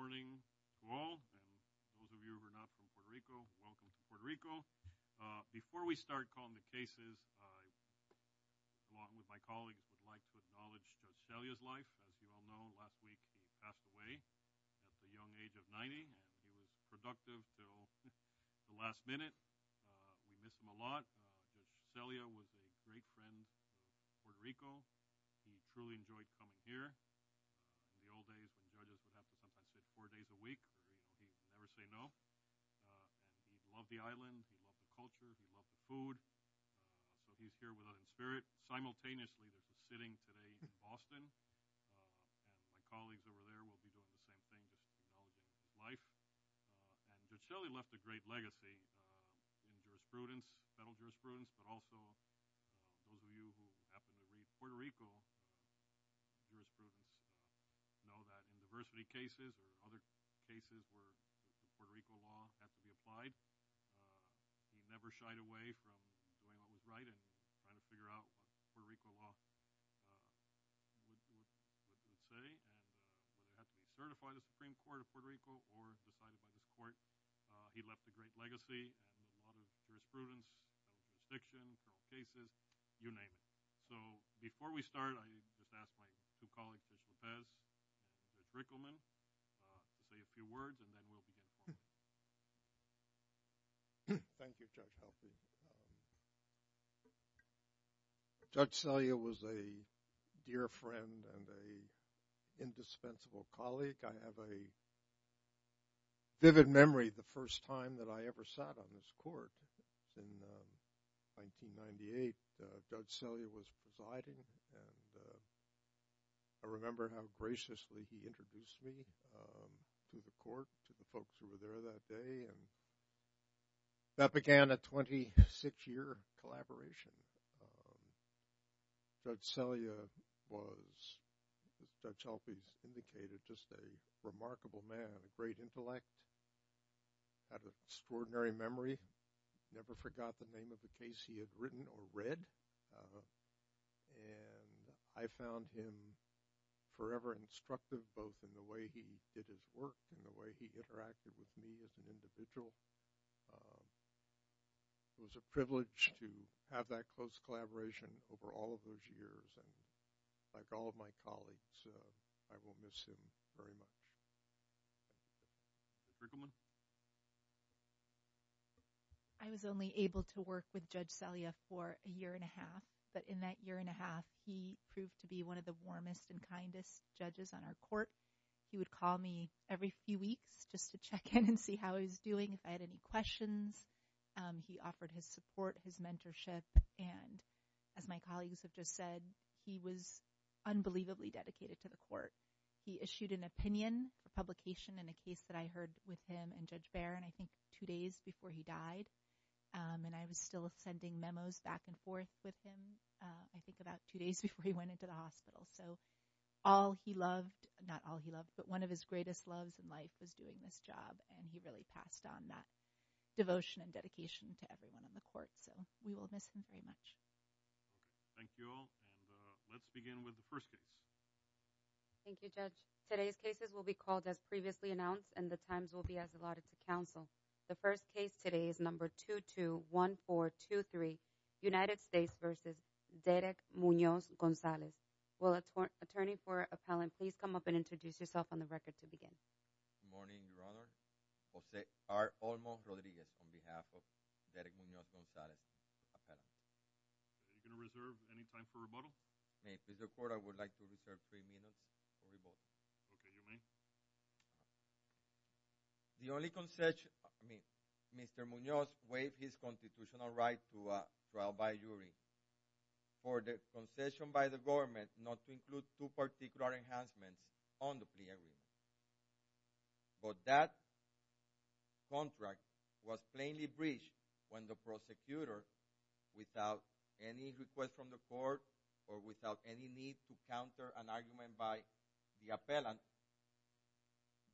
Good morning to all, and those of you who are not from Puerto Rico, welcome to Puerto Rico. Before we start calling the cases, I, along with my colleagues, would like to acknowledge Judge Celia's life. As you all know, last week she passed away at the young age of 90, and she was productive until the last minute. We miss her a lot. Judge Celia was a great friend of Puerto Rico. She truly enjoyed coming here. In the old days, some judges would have to sometimes sit four days a week. He would never say no. He loved the island. He loved the culture. He loved the food. So he's here with us in spirit. Simultaneously, we're just sitting today in Boston. My colleagues over there will be doing the same thing with all of his life. And Judge Celia left a great legacy in jurisprudence, federal jurisprudence, but also, those of you who happen to read Puerto Rico, jurisprudence, know that in diversity cases or other cases where Puerto Rico law has to be applied, he never shied away from doing what was right and trying to figure out what Puerto Rico law would say. And whether it has to be certified in the Supreme Court of Puerto Rico or decided by the court, he left a great legacy in a lot of jurisprudence, jurisdiction, federal cases, you name it. So before we start, I just ask my two colleagues, Judge Lopez and Judge Rickleman, to say a few words, and then we'll begin. Thank you, Judge. Judge Celia was a dear friend and an indispensable colleague. I have a vivid memory the first time that I ever sat on this court in 1998. Judge Celia was presiding, and I remember how graciously he introduced me to the court, to the folks who were there that day. And that began a 26-year collaboration. Judge Celia was, as Judge Lopez indicated, just a remarkable man, a great intellect, had an extraordinary memory, never forgot the name of the case he had written or read. And I found him forever instructive both in the way he did his work and the way he interacted with me as an individual. It was a privilege to have that close collaboration over all of those years. And like all of my colleagues, I will miss him very much. Judge Rickleman? I was only able to work with Judge Celia for a year and a half, but in that year and a half, he proved to be one of the warmest and kindest judges on our court. He would call me every few weeks just to check in and see how I was doing, if I had any questions. He offered his support, his mentorship, and as my colleagues have just said, he was unbelievably dedicated to the court. He issued an opinion, a publication in a case that I heard with him and Judge Barron, I think two days before he died. And I was still sending memos back and forth with him, I think about two days before he went into the hospital. So all he loved, not all he loved, but one of his greatest loves in life was doing this job, and he really passed on that devotion and dedication to everyone on the court. So we will miss him very much. Thank you all, and let's begin with the first case. Thank you, Judge. Today's cases will be called as previously announced, and the times will be as allotted to counsel. The first case today is number 221423, United States v. Derek Munoz Gonzalez. Will the attorney for appellant please come up and introduce yourself on the record to begin? Good morning, Your Honor. Jose R. Olmo Rodriguez on behalf of Derek Munoz Gonzalez, appellant. Are you going to reserve any time for rebuttal? May it please the court, I would like to reserve three minutes for rebuttal. Okay, your name? The only concession, I mean, Mr. Munoz waived his constitutional right to trial by jury for the concession by the government not to include two particular enhancements on the plea agreement. But that contract was plainly breached when the prosecutor, without any request from the court or without any need to counter an argument by the appellant,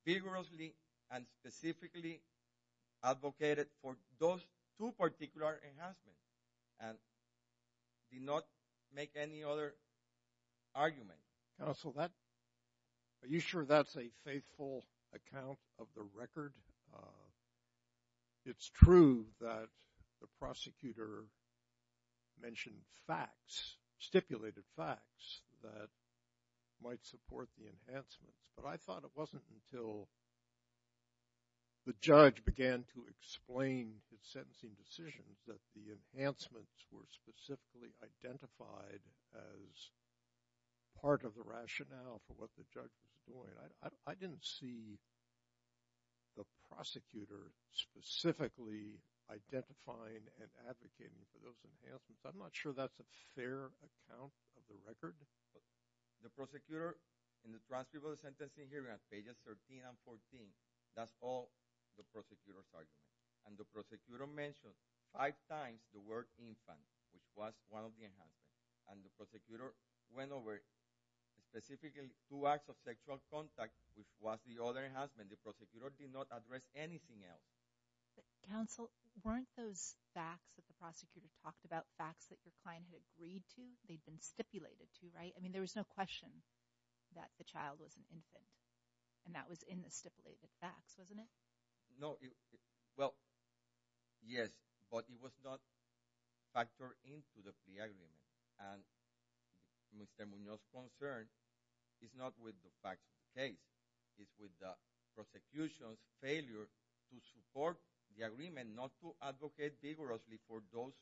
vigorously and specifically advocated for those two particular enhancements. And did not make any other argument. Counsel, are you sure that's a faithful account of the record? It's true that the prosecutor mentioned facts, stipulated facts that might support the enhancements. But I thought it wasn't until the judge began to explain his sentencing decisions that the enhancements were specifically identified as part of the rationale for what the judge was doing. I didn't see the prosecutor specifically identifying and advocating for those enhancements. I'm not sure that's a fair account of the record. The prosecutor in the trans people's sentencing hearing on pages 13 and 14, that's all the prosecutor's argument. And the prosecutor mentioned five times the word infant, which was one of the enhancements. And the prosecutor went over specifically two acts of sexual contact, which was the other enhancement. The prosecutor did not address anything else. Counsel, weren't those facts that the prosecutor talked about facts that your client had agreed to, they'd been stipulated to, right? I mean, there was no question that the child was an infant. And that was in the stipulated facts, wasn't it? No, well, yes, but it was not factored into the plea agreement. And Mr. Munoz's concern is not with the fact of the case. It's with the prosecution's failure to support the agreement not to advocate vigorously for those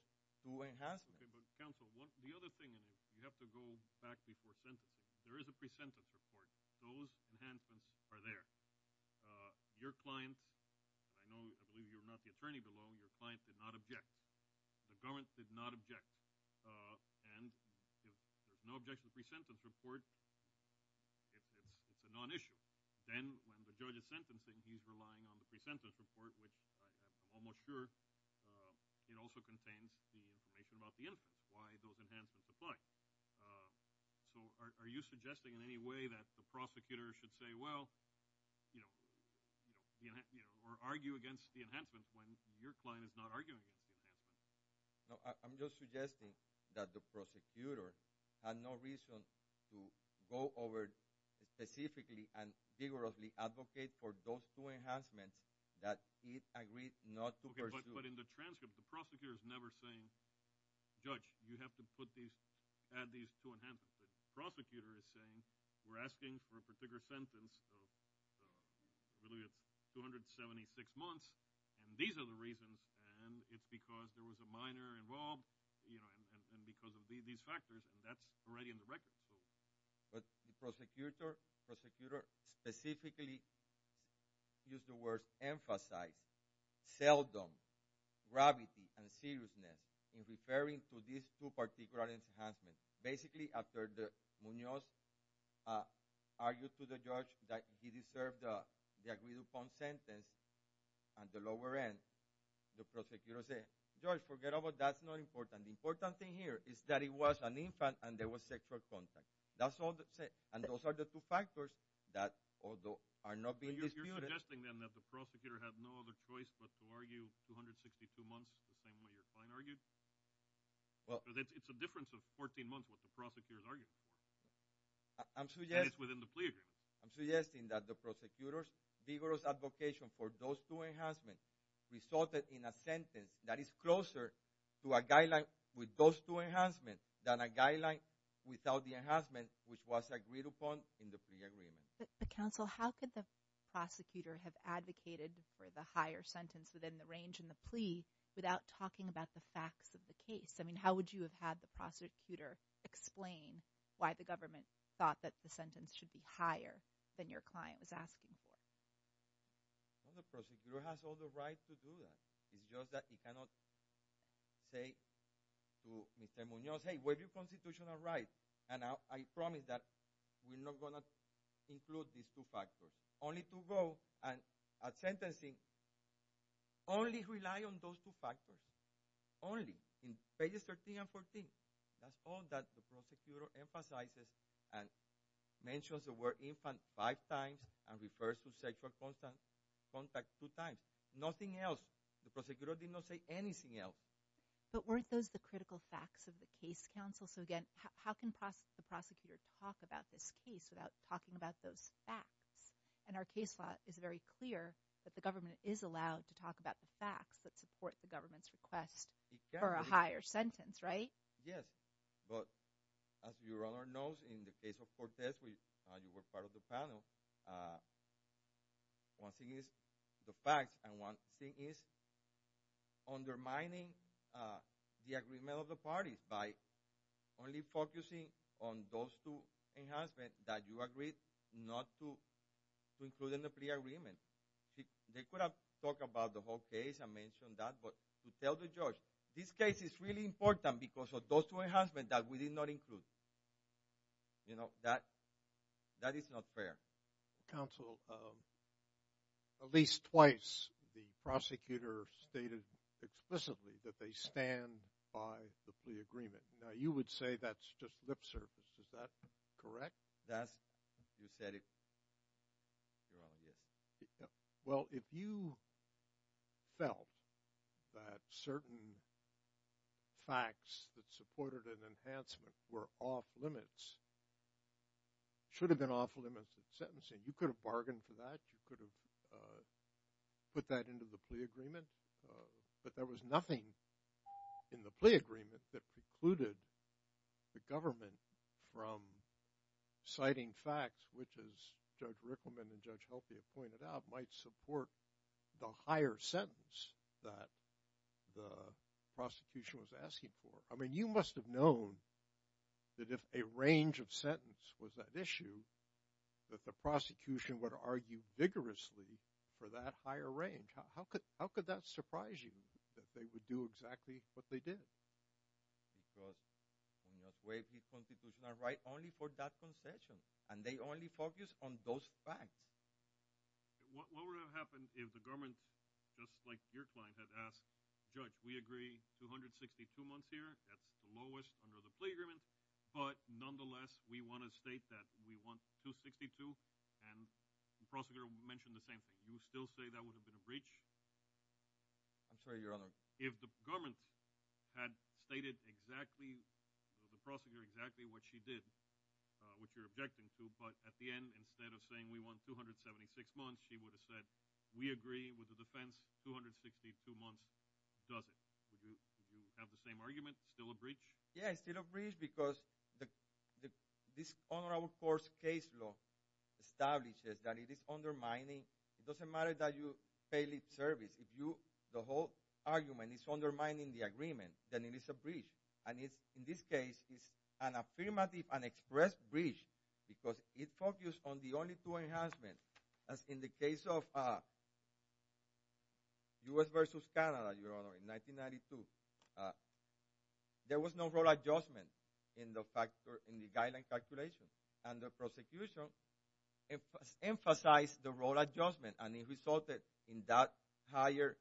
two enhancements. Okay, but counsel, the other thing is you have to go back before sentencing. There is a pre-sentence report. Those enhancements are there. Your client, I know I believe you're not the attorney below, your client did not object. The government did not object. And if there's no objection to the pre-sentence report, it's a non-issue. Then when the judge is sentencing, he's relying on the pre-sentence report, which I'm almost sure it also contains the information about the infant, why those enhancements apply. So are you suggesting in any way that the prosecutor should say, well, you know, or argue against the enhancements when your client is not arguing against the enhancements? No, I'm just suggesting that the prosecutor had no reason to go over specifically and vigorously advocate for those two enhancements that he agreed not to pursue. Okay, but in the transcript, the prosecutor is never saying, judge, you have to put these, add these two enhancements. The prosecutor is saying we're asking for a particular sentence of really 276 months, and these are the reasons, and it's because there was a minor involved, you know, and because of these factors, and that's already in the record. But the prosecutor specifically used the words emphasize, seldom, gravity, and seriousness in referring to these two particular enhancements. Basically, after Munoz argued to the judge that he deserved the agreed-upon sentence at the lower end, the prosecutor said, judge, forget about it, that's not important. And the important thing here is that it was an infant and there was sexual contact. That's all that's said, and those are the two factors that although are not being disputed. You're suggesting then that the prosecutor had no other choice but to argue 262 months the same way your client argued? Well. Because it's a difference of 14 months what the prosecutor is arguing. I'm suggesting. And it's within the plea agreement. I'm suggesting that the prosecutor's vigorous advocation for those two enhancements resulted in a sentence that is closer to a guideline with those two enhancements than a guideline without the enhancement which was agreed upon in the plea agreement. But counsel, how could the prosecutor have advocated for the higher sentence within the range in the plea without talking about the facts of the case? I mean, how would you have had the prosecutor explain why the government thought that the sentence should be higher than your client was asking for? Well, the prosecutor has all the right to do that. It's just that he cannot say to Mr. Munoz, hey, where are your constitutional rights? And I promise that we're not going to include these two factors. Only to go and at sentencing only rely on those two factors. Only. In pages 13 and 14. That's all that the prosecutor emphasizes and mentions the word infant five times and refers to sexual contact two times. Nothing else. The prosecutor did not say anything else. But weren't those the critical facts of the case, counsel? So again, how can the prosecutor talk about this case without talking about those facts? And our case law is very clear that the government is allowed to talk about the facts that support the government's request for a higher sentence, right? Yes. But as your Honor knows, in the case of Cortez, you were part of the panel, one thing is the facts and one thing is undermining the agreement of the parties by only focusing on those two enhancements that you agreed not to include in the plea agreement. They could have talked about the whole case and mentioned that, but to tell the judge this case is really important because of those two enhancements that we did not include. You know, that is not fair. Counsel, at least twice the prosecutor stated explicitly that they stand by the plea agreement. Now you would say that's just lip service. Is that correct? You said it wrong. Well, if you felt that certain facts that supported an enhancement were off limits, should have been off limits of sentencing, you could have bargained for that. You could have put that into the plea agreement. But there was nothing in the plea agreement that precluded the government from citing facts, which, as Judge Rickleman and Judge Heltia pointed out, might support the higher sentence that the prosecution was asking for. I mean, you must have known that if a range of sentence was at issue, that the prosecution would argue vigorously for that higher range. How could that surprise you that they would do exactly what they did? Because in that way, the Constitution is right only for that concession, and they only focus on those facts. What would have happened if the government, just like your client had asked, Judge, we agree 262 months here, that's the lowest under the plea agreement, but nonetheless we want to state that we want 262? And the prosecutor mentioned the same thing. Do you still say that would have been a breach? I'm sorry, Your Honor. If the government had stated exactly, the prosecutor, exactly what she did, which you're objecting to, but at the end, instead of saying we want 276 months, she would have said, we agree with the defense, 262 months does it. Would you have the same argument, still a breach? Yes, still a breach, because this honorable court's case law establishes that it is undermining, it doesn't matter that you fail its service, if the whole argument is undermining the agreement, then it is a breach. And in this case, it's an affirmative, an express breach, because it focused on the only two enhancements. As in the case of U.S. versus Canada, Your Honor, in 1992, there was no rule adjustment in the guideline calculation, and the prosecution emphasized the rule adjustment, and it resulted in that higher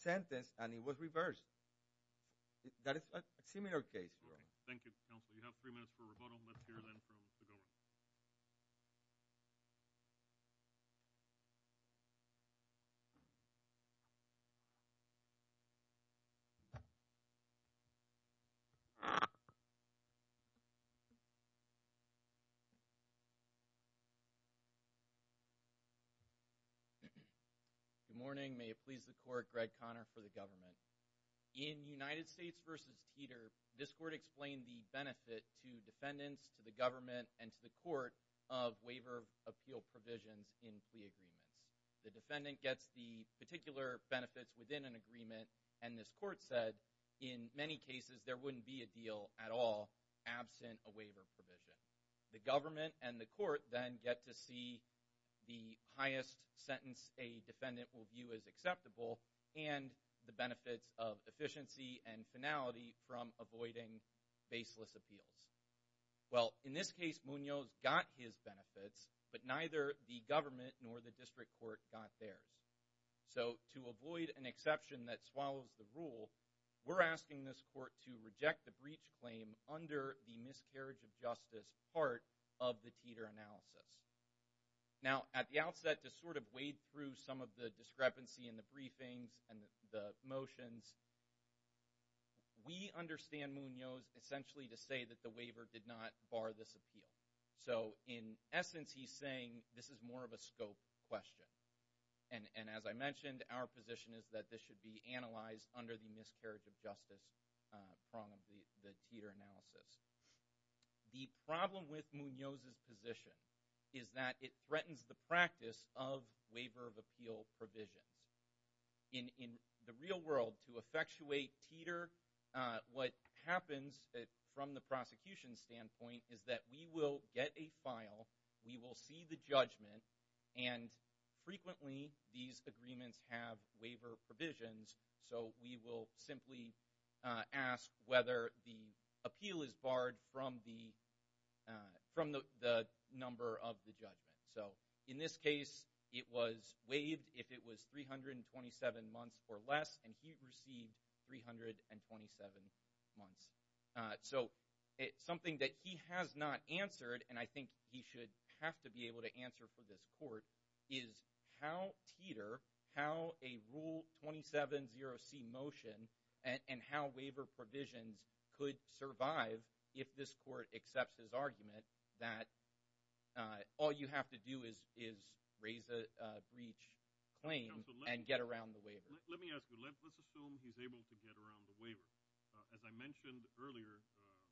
sentence, and it was reversed. That is a similar case. Thank you, counsel. You have three minutes for rebuttal, and let's hear then from the government. Good morning. May it please the court, Greg Conner for the government. In United States versus Teeter, this court explained the benefit to defendants, to the government, and to the court of waiver appeal provisions in plea agreements. The defendant gets the particular benefits within an agreement, and this court said, in many cases, there wouldn't be a deal at all absent a waiver provision. The government and the court then get to see the highest sentence a defendant will view as acceptable and the benefits of efficiency and finality from avoiding baseless appeals. Well, in this case, Munoz got his benefits, but neither the government nor the district court got theirs. So to avoid an exception that swallows the rule, we're asking this court to reject the breach claim under the miscarriage of justice part of the Teeter analysis. Now, at the outset, to sort of wade through some of the discrepancy in the briefings and the motions, we understand Munoz essentially to say that the waiver did not bar this appeal. So in essence, he's saying this is more of a scope question. And as I mentioned, our position is that this should be analyzed under the miscarriage of justice prong of the Teeter analysis. The problem with Munoz's position is that it threatens the practice of waiver of appeal provisions. In the real world, to effectuate Teeter, what happens from the prosecution's standpoint is that we will get a file, we will see the judgment, and frequently these agreements have waiver provisions, so we will simply ask whether the appeal is barred from the number of the judgment. So in this case, it was waived if it was 327 months or less, and he received 327 months. So something that he has not answered, and I think he should have to be able to answer for this court, is how Teeter, how a Rule 270C motion, and how waiver provisions could survive if this court accepts his argument that all you have to do is raise a breach claim and get around the waiver. Let me ask you, let's assume he's able to get around the waiver. As I mentioned earlier, as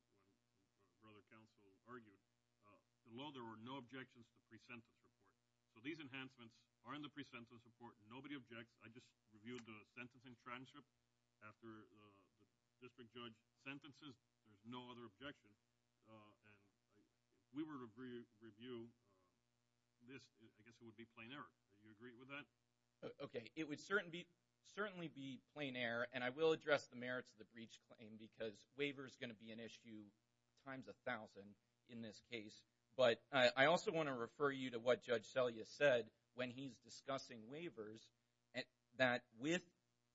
the other counsel argued, below there were no objections to pre-sentence report. So these enhancements are in the pre-sentence report. Nobody objects. I just reviewed the sentencing transcript after the district judge's sentences. There's no other objections. And if we were to review this, I guess it would be plain error. Would you agree with that? Okay, it would certainly be plain error, and I will address the merits of the breach claim because waiver is going to be an issue times 1,000 in this case. But I also want to refer you to what Judge Selya said when he's discussing waivers, that with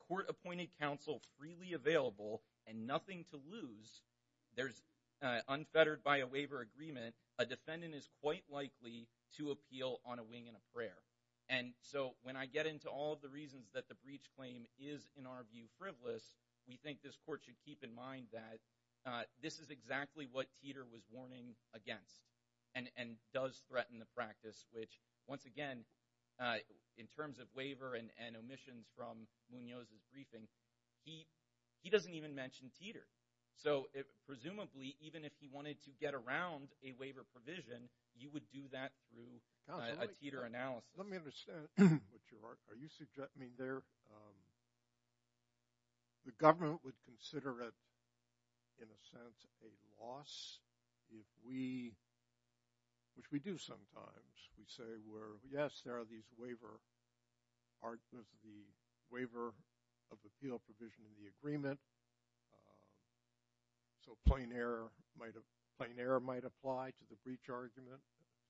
court-appointed counsel freely available and nothing to lose, unfettered by a waiver agreement, a defendant is quite likely to appeal on a wing and a prayer. And so when I get into all of the reasons that the breach claim is, in our view, frivolous, we think this court should keep in mind that this is exactly what Teeter was warning against and does threaten the practice, which, once again, in terms of waiver and omissions from Munoz's briefing, he doesn't even mention Teeter. So presumably, even if he wanted to get around a waiver provision, you would do that through a Teeter analysis. Counsel, let me understand what you're arguing. Are you suggesting there... The government would consider it, in a sense, a loss if we... which we do sometimes. We say, yes, there are these waiver arguments, the waiver of appeal provision in the agreement. So plain error might apply to the breach argument,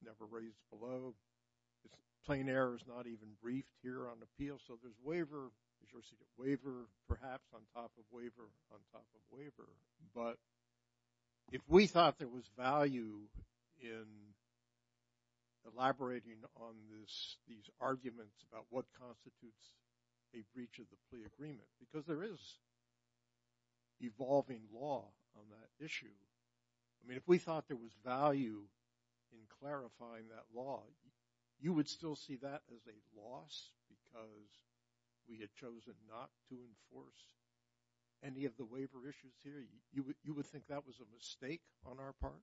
never raised below. Plain error is not even briefed here on appeal, so there's waiver versus waiver, perhaps on top of waiver on top of waiver. But if we thought there was value in elaborating on these arguments about what constitutes a breach of the plea agreement, because there is evolving law on that issue. I mean, if we thought there was value in clarifying that law, you would still see that as a loss because we had chosen not to enforce any of the waiver issues here? You would think that was a mistake on our part?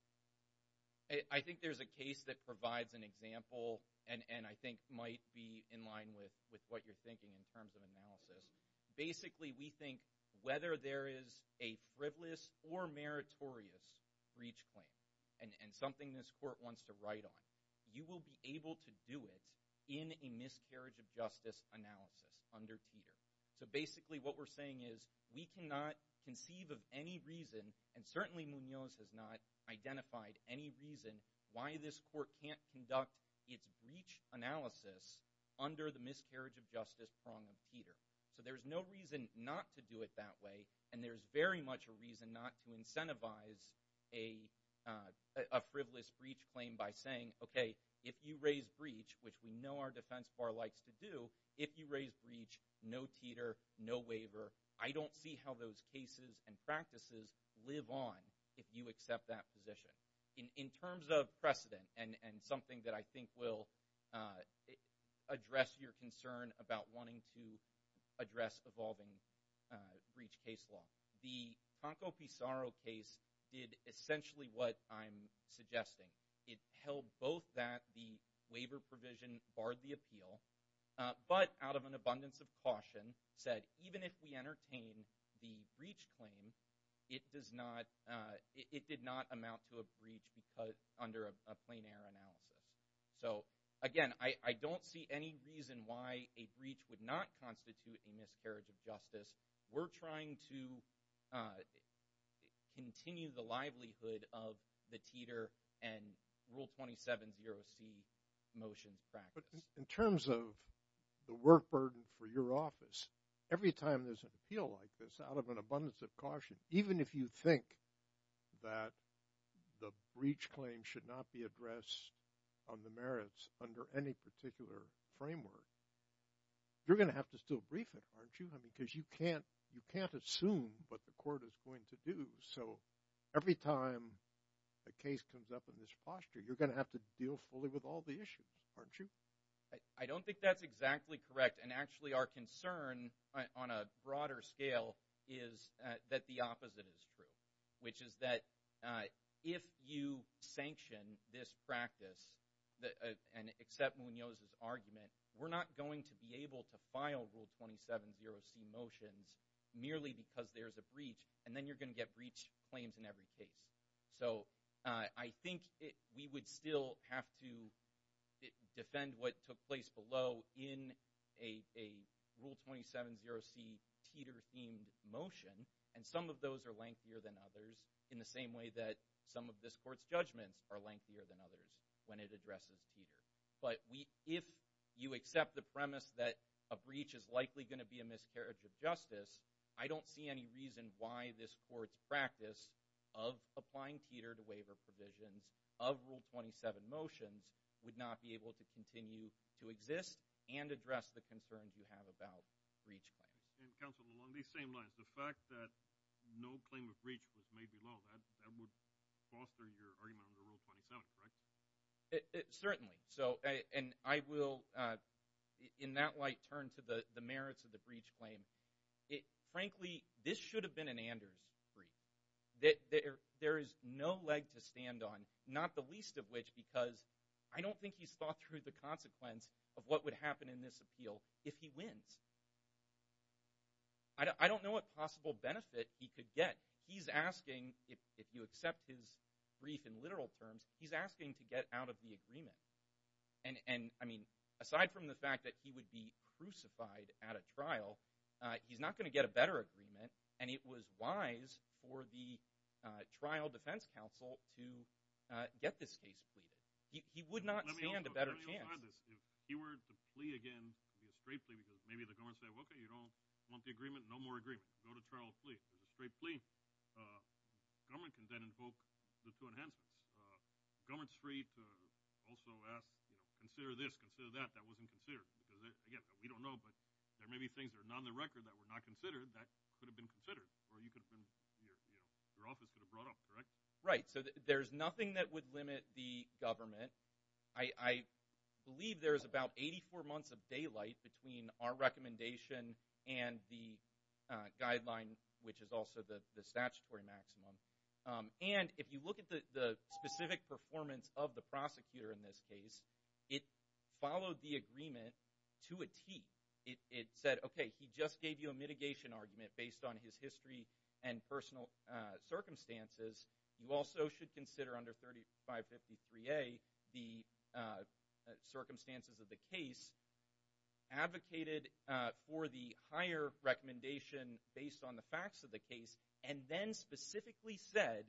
I think there's a case that provides an example and I think might be in line with what you're thinking in terms of analysis. Basically, we think whether there is a frivolous or meritorious breach claim and something this court wants to write on, you will be able to do it in a miscarriage of justice analysis under Teeter. So basically what we're saying is we cannot conceive of any reason, and certainly Munoz has not identified any reason why this court can't conduct its breach analysis under the miscarriage of justice prong of Teeter. So there's no reason not to do it that way, and there's very much a reason not to incentivize a frivolous breach claim by saying, okay, if you raise breach, which we know our defense bar likes to do, if you raise breach, no Teeter, no waiver. I don't see how those cases and practices live on if you accept that position. In terms of precedent, and something that I think will address your concern about wanting to address evolving breach case law, the Conco Pizarro case did essentially what I'm suggesting. It held both that the waiver provision barred the appeal, but out of an abundance of caution, said even if we entertain the breach claim, it did not amount to a breach under a plein air analysis. So again, I don't see any reason why a breach would not constitute a miscarriage of justice. We're trying to continue the livelihood of the Teeter and Rule 27-0C motion practice. But in terms of the work burden for your office, every time there's an appeal like this, out of an abundance of caution, even if you think that the breach claim should not be addressed on the merits under any particular framework, you're going to have to still brief it, aren't you? Because you can't assume what the court is going to do. So every time a case comes up in this posture, you're going to have to deal fully with all the issues, aren't you? I don't think that's exactly correct. And actually our concern on a broader scale is that the opposite is true, which is that if you sanction this practice and accept Munoz's argument, we're not going to be able to file Rule 27-0C motions merely because there's a breach, and then you're going to get breach claims in every case. So I think we would still have to defend what took place below in a Rule 27-0C Teeter-themed motion, and some of those are lengthier than others, in the same way that some of this court's judgments are lengthier than others when it addresses Teeter. But if you accept the premise that a breach is likely going to be a miscarriage of justice, I don't see any reason why this court's practice of applying Teeter to waiver provisions of Rule 27 motions would not be able to continue to exist and address the concerns you have about breach claims. And, counsel, along these same lines, the fact that no claim of breach was made below, that would foster your argument under Rule 27, right? Certainly. And I will, in that light, turn to the merits of the breach claim. Frankly, this should have been an Anders brief. There is no leg to stand on, not the least of which because I don't think he's thought through the consequence of what would happen in this appeal if he wins. I don't know what possible benefit he could get. He's asking, if you accept his brief in literal terms, he's asking to get out of the agreement. And, I mean, aside from the fact that he would be crucified at a trial, he's not going to get a better agreement, and it was wise for the trial defense counsel to get this case pleaded. He would not stand a better chance. Let me clarify this. If he were to plea again, it would be a straight plea because maybe the government would say, okay, you don't want the agreement, no more agreement. Go to trial and plea. It's a straight plea. The government can then invoke this to enhance it. The government's free to also ask, consider this, consider that. That wasn't considered because, again, we don't know, but there may be things that are not on the record that were not considered that could have been considered or your office could have brought up, correct? Right, so there's nothing that would limit the government. I believe there's about 84 months of daylight between our recommendation and the guideline, which is also the statutory maximum. And if you look at the specific performance of the prosecutor in this case, it followed the agreement to a T. It said, okay, he just gave you a mitigation argument based on his history and personal circumstances. You also should consider under 3553A the circumstances of the case, advocated for the higher recommendation based on the facts of the case, and then specifically said,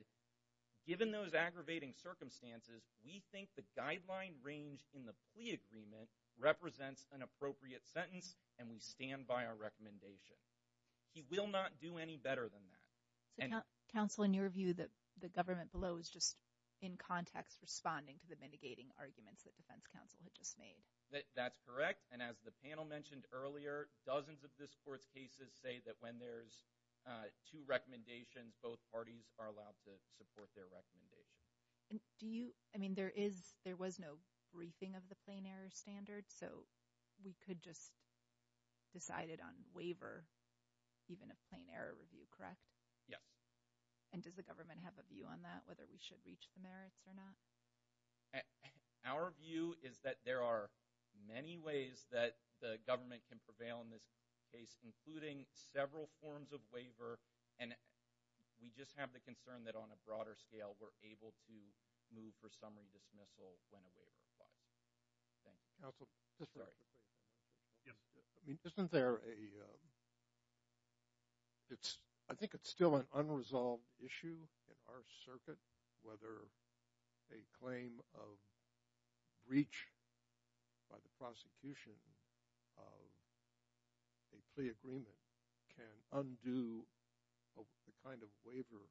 given those aggravating circumstances, we think the guideline range in the plea agreement represents an appropriate sentence, and we stand by our recommendation. He will not do any better than that. So counsel, in your view, the government below is just in context responding to the mitigating arguments that defense counsel had just made. That's correct, and as the panel mentioned earlier, dozens of this court's cases say that when there's two recommendations, both parties are allowed to support their recommendations. Do you—I mean, there was no briefing of the plain error standard, so we could just decide it on waiver, even a plain error review, correct? Yes. And does the government have a view on that, whether we should reach the merits or not? Our view is that there are many ways that the government can prevail in this case, including several forms of waiver, and we just have the concern that on a broader scale we're able to move for summary dismissal when a waiver applies. Counsel, isn't there a—I think it's still an unresolved issue in our circuit whether a claim of breach by the prosecution of a plea agreement can undo the kind of waiver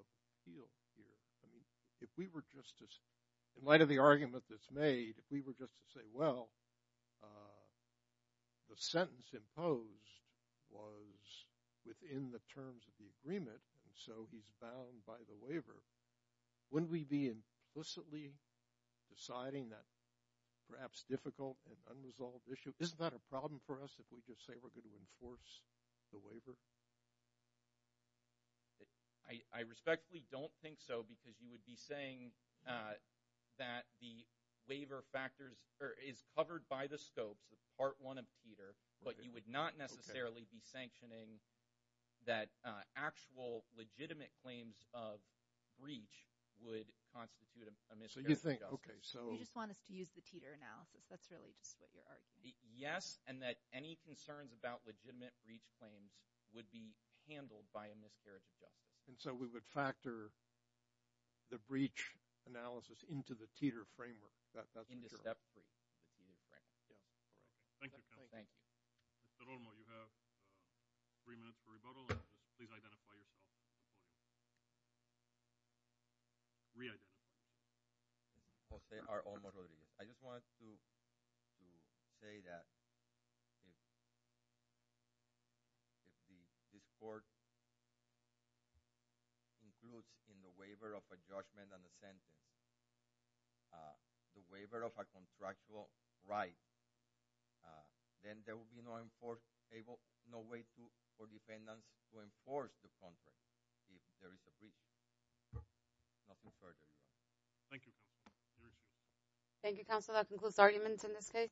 appeal here? I mean, if we were just to—in light of the argument that's made, if we were just to say, well, the sentence imposed was within the terms of the agreement, and so he's bound by the waiver, wouldn't we be implicitly deciding that perhaps difficult and unresolved issue? Isn't that a problem for us if we just say we're going to enforce the waiver? I respectfully don't think so, because you would be saying that the waiver factors— or is covered by the scopes of Part 1 of TETR, but you would not necessarily be sanctioning that actual legitimate claims of breach would constitute a miscarriage of justice. So you think—okay, so— You just want us to use the TETR analysis. That's really just what you're arguing. Yes, and that any concerns about legitimate breach claims would be handled by a miscarriage of justice. And so we would factor the breach analysis into the TETR framework. That's for sure. Into Step 3, the TETR framework. Thank you. Thank you. Mr. Olmo, you have three minutes for rebuttal. Please identify yourself. Re-identify yourself. Jose R. Olmo Rodriguez. I just wanted to say that if this court includes in the waiver of a judgment and a sentence the waiver of a contractual right, then there will be no way for defendants to enforce the contract if there is a breach. Nothing further, Your Honor. Thank you. Thank you, counsel. That concludes arguments in this case.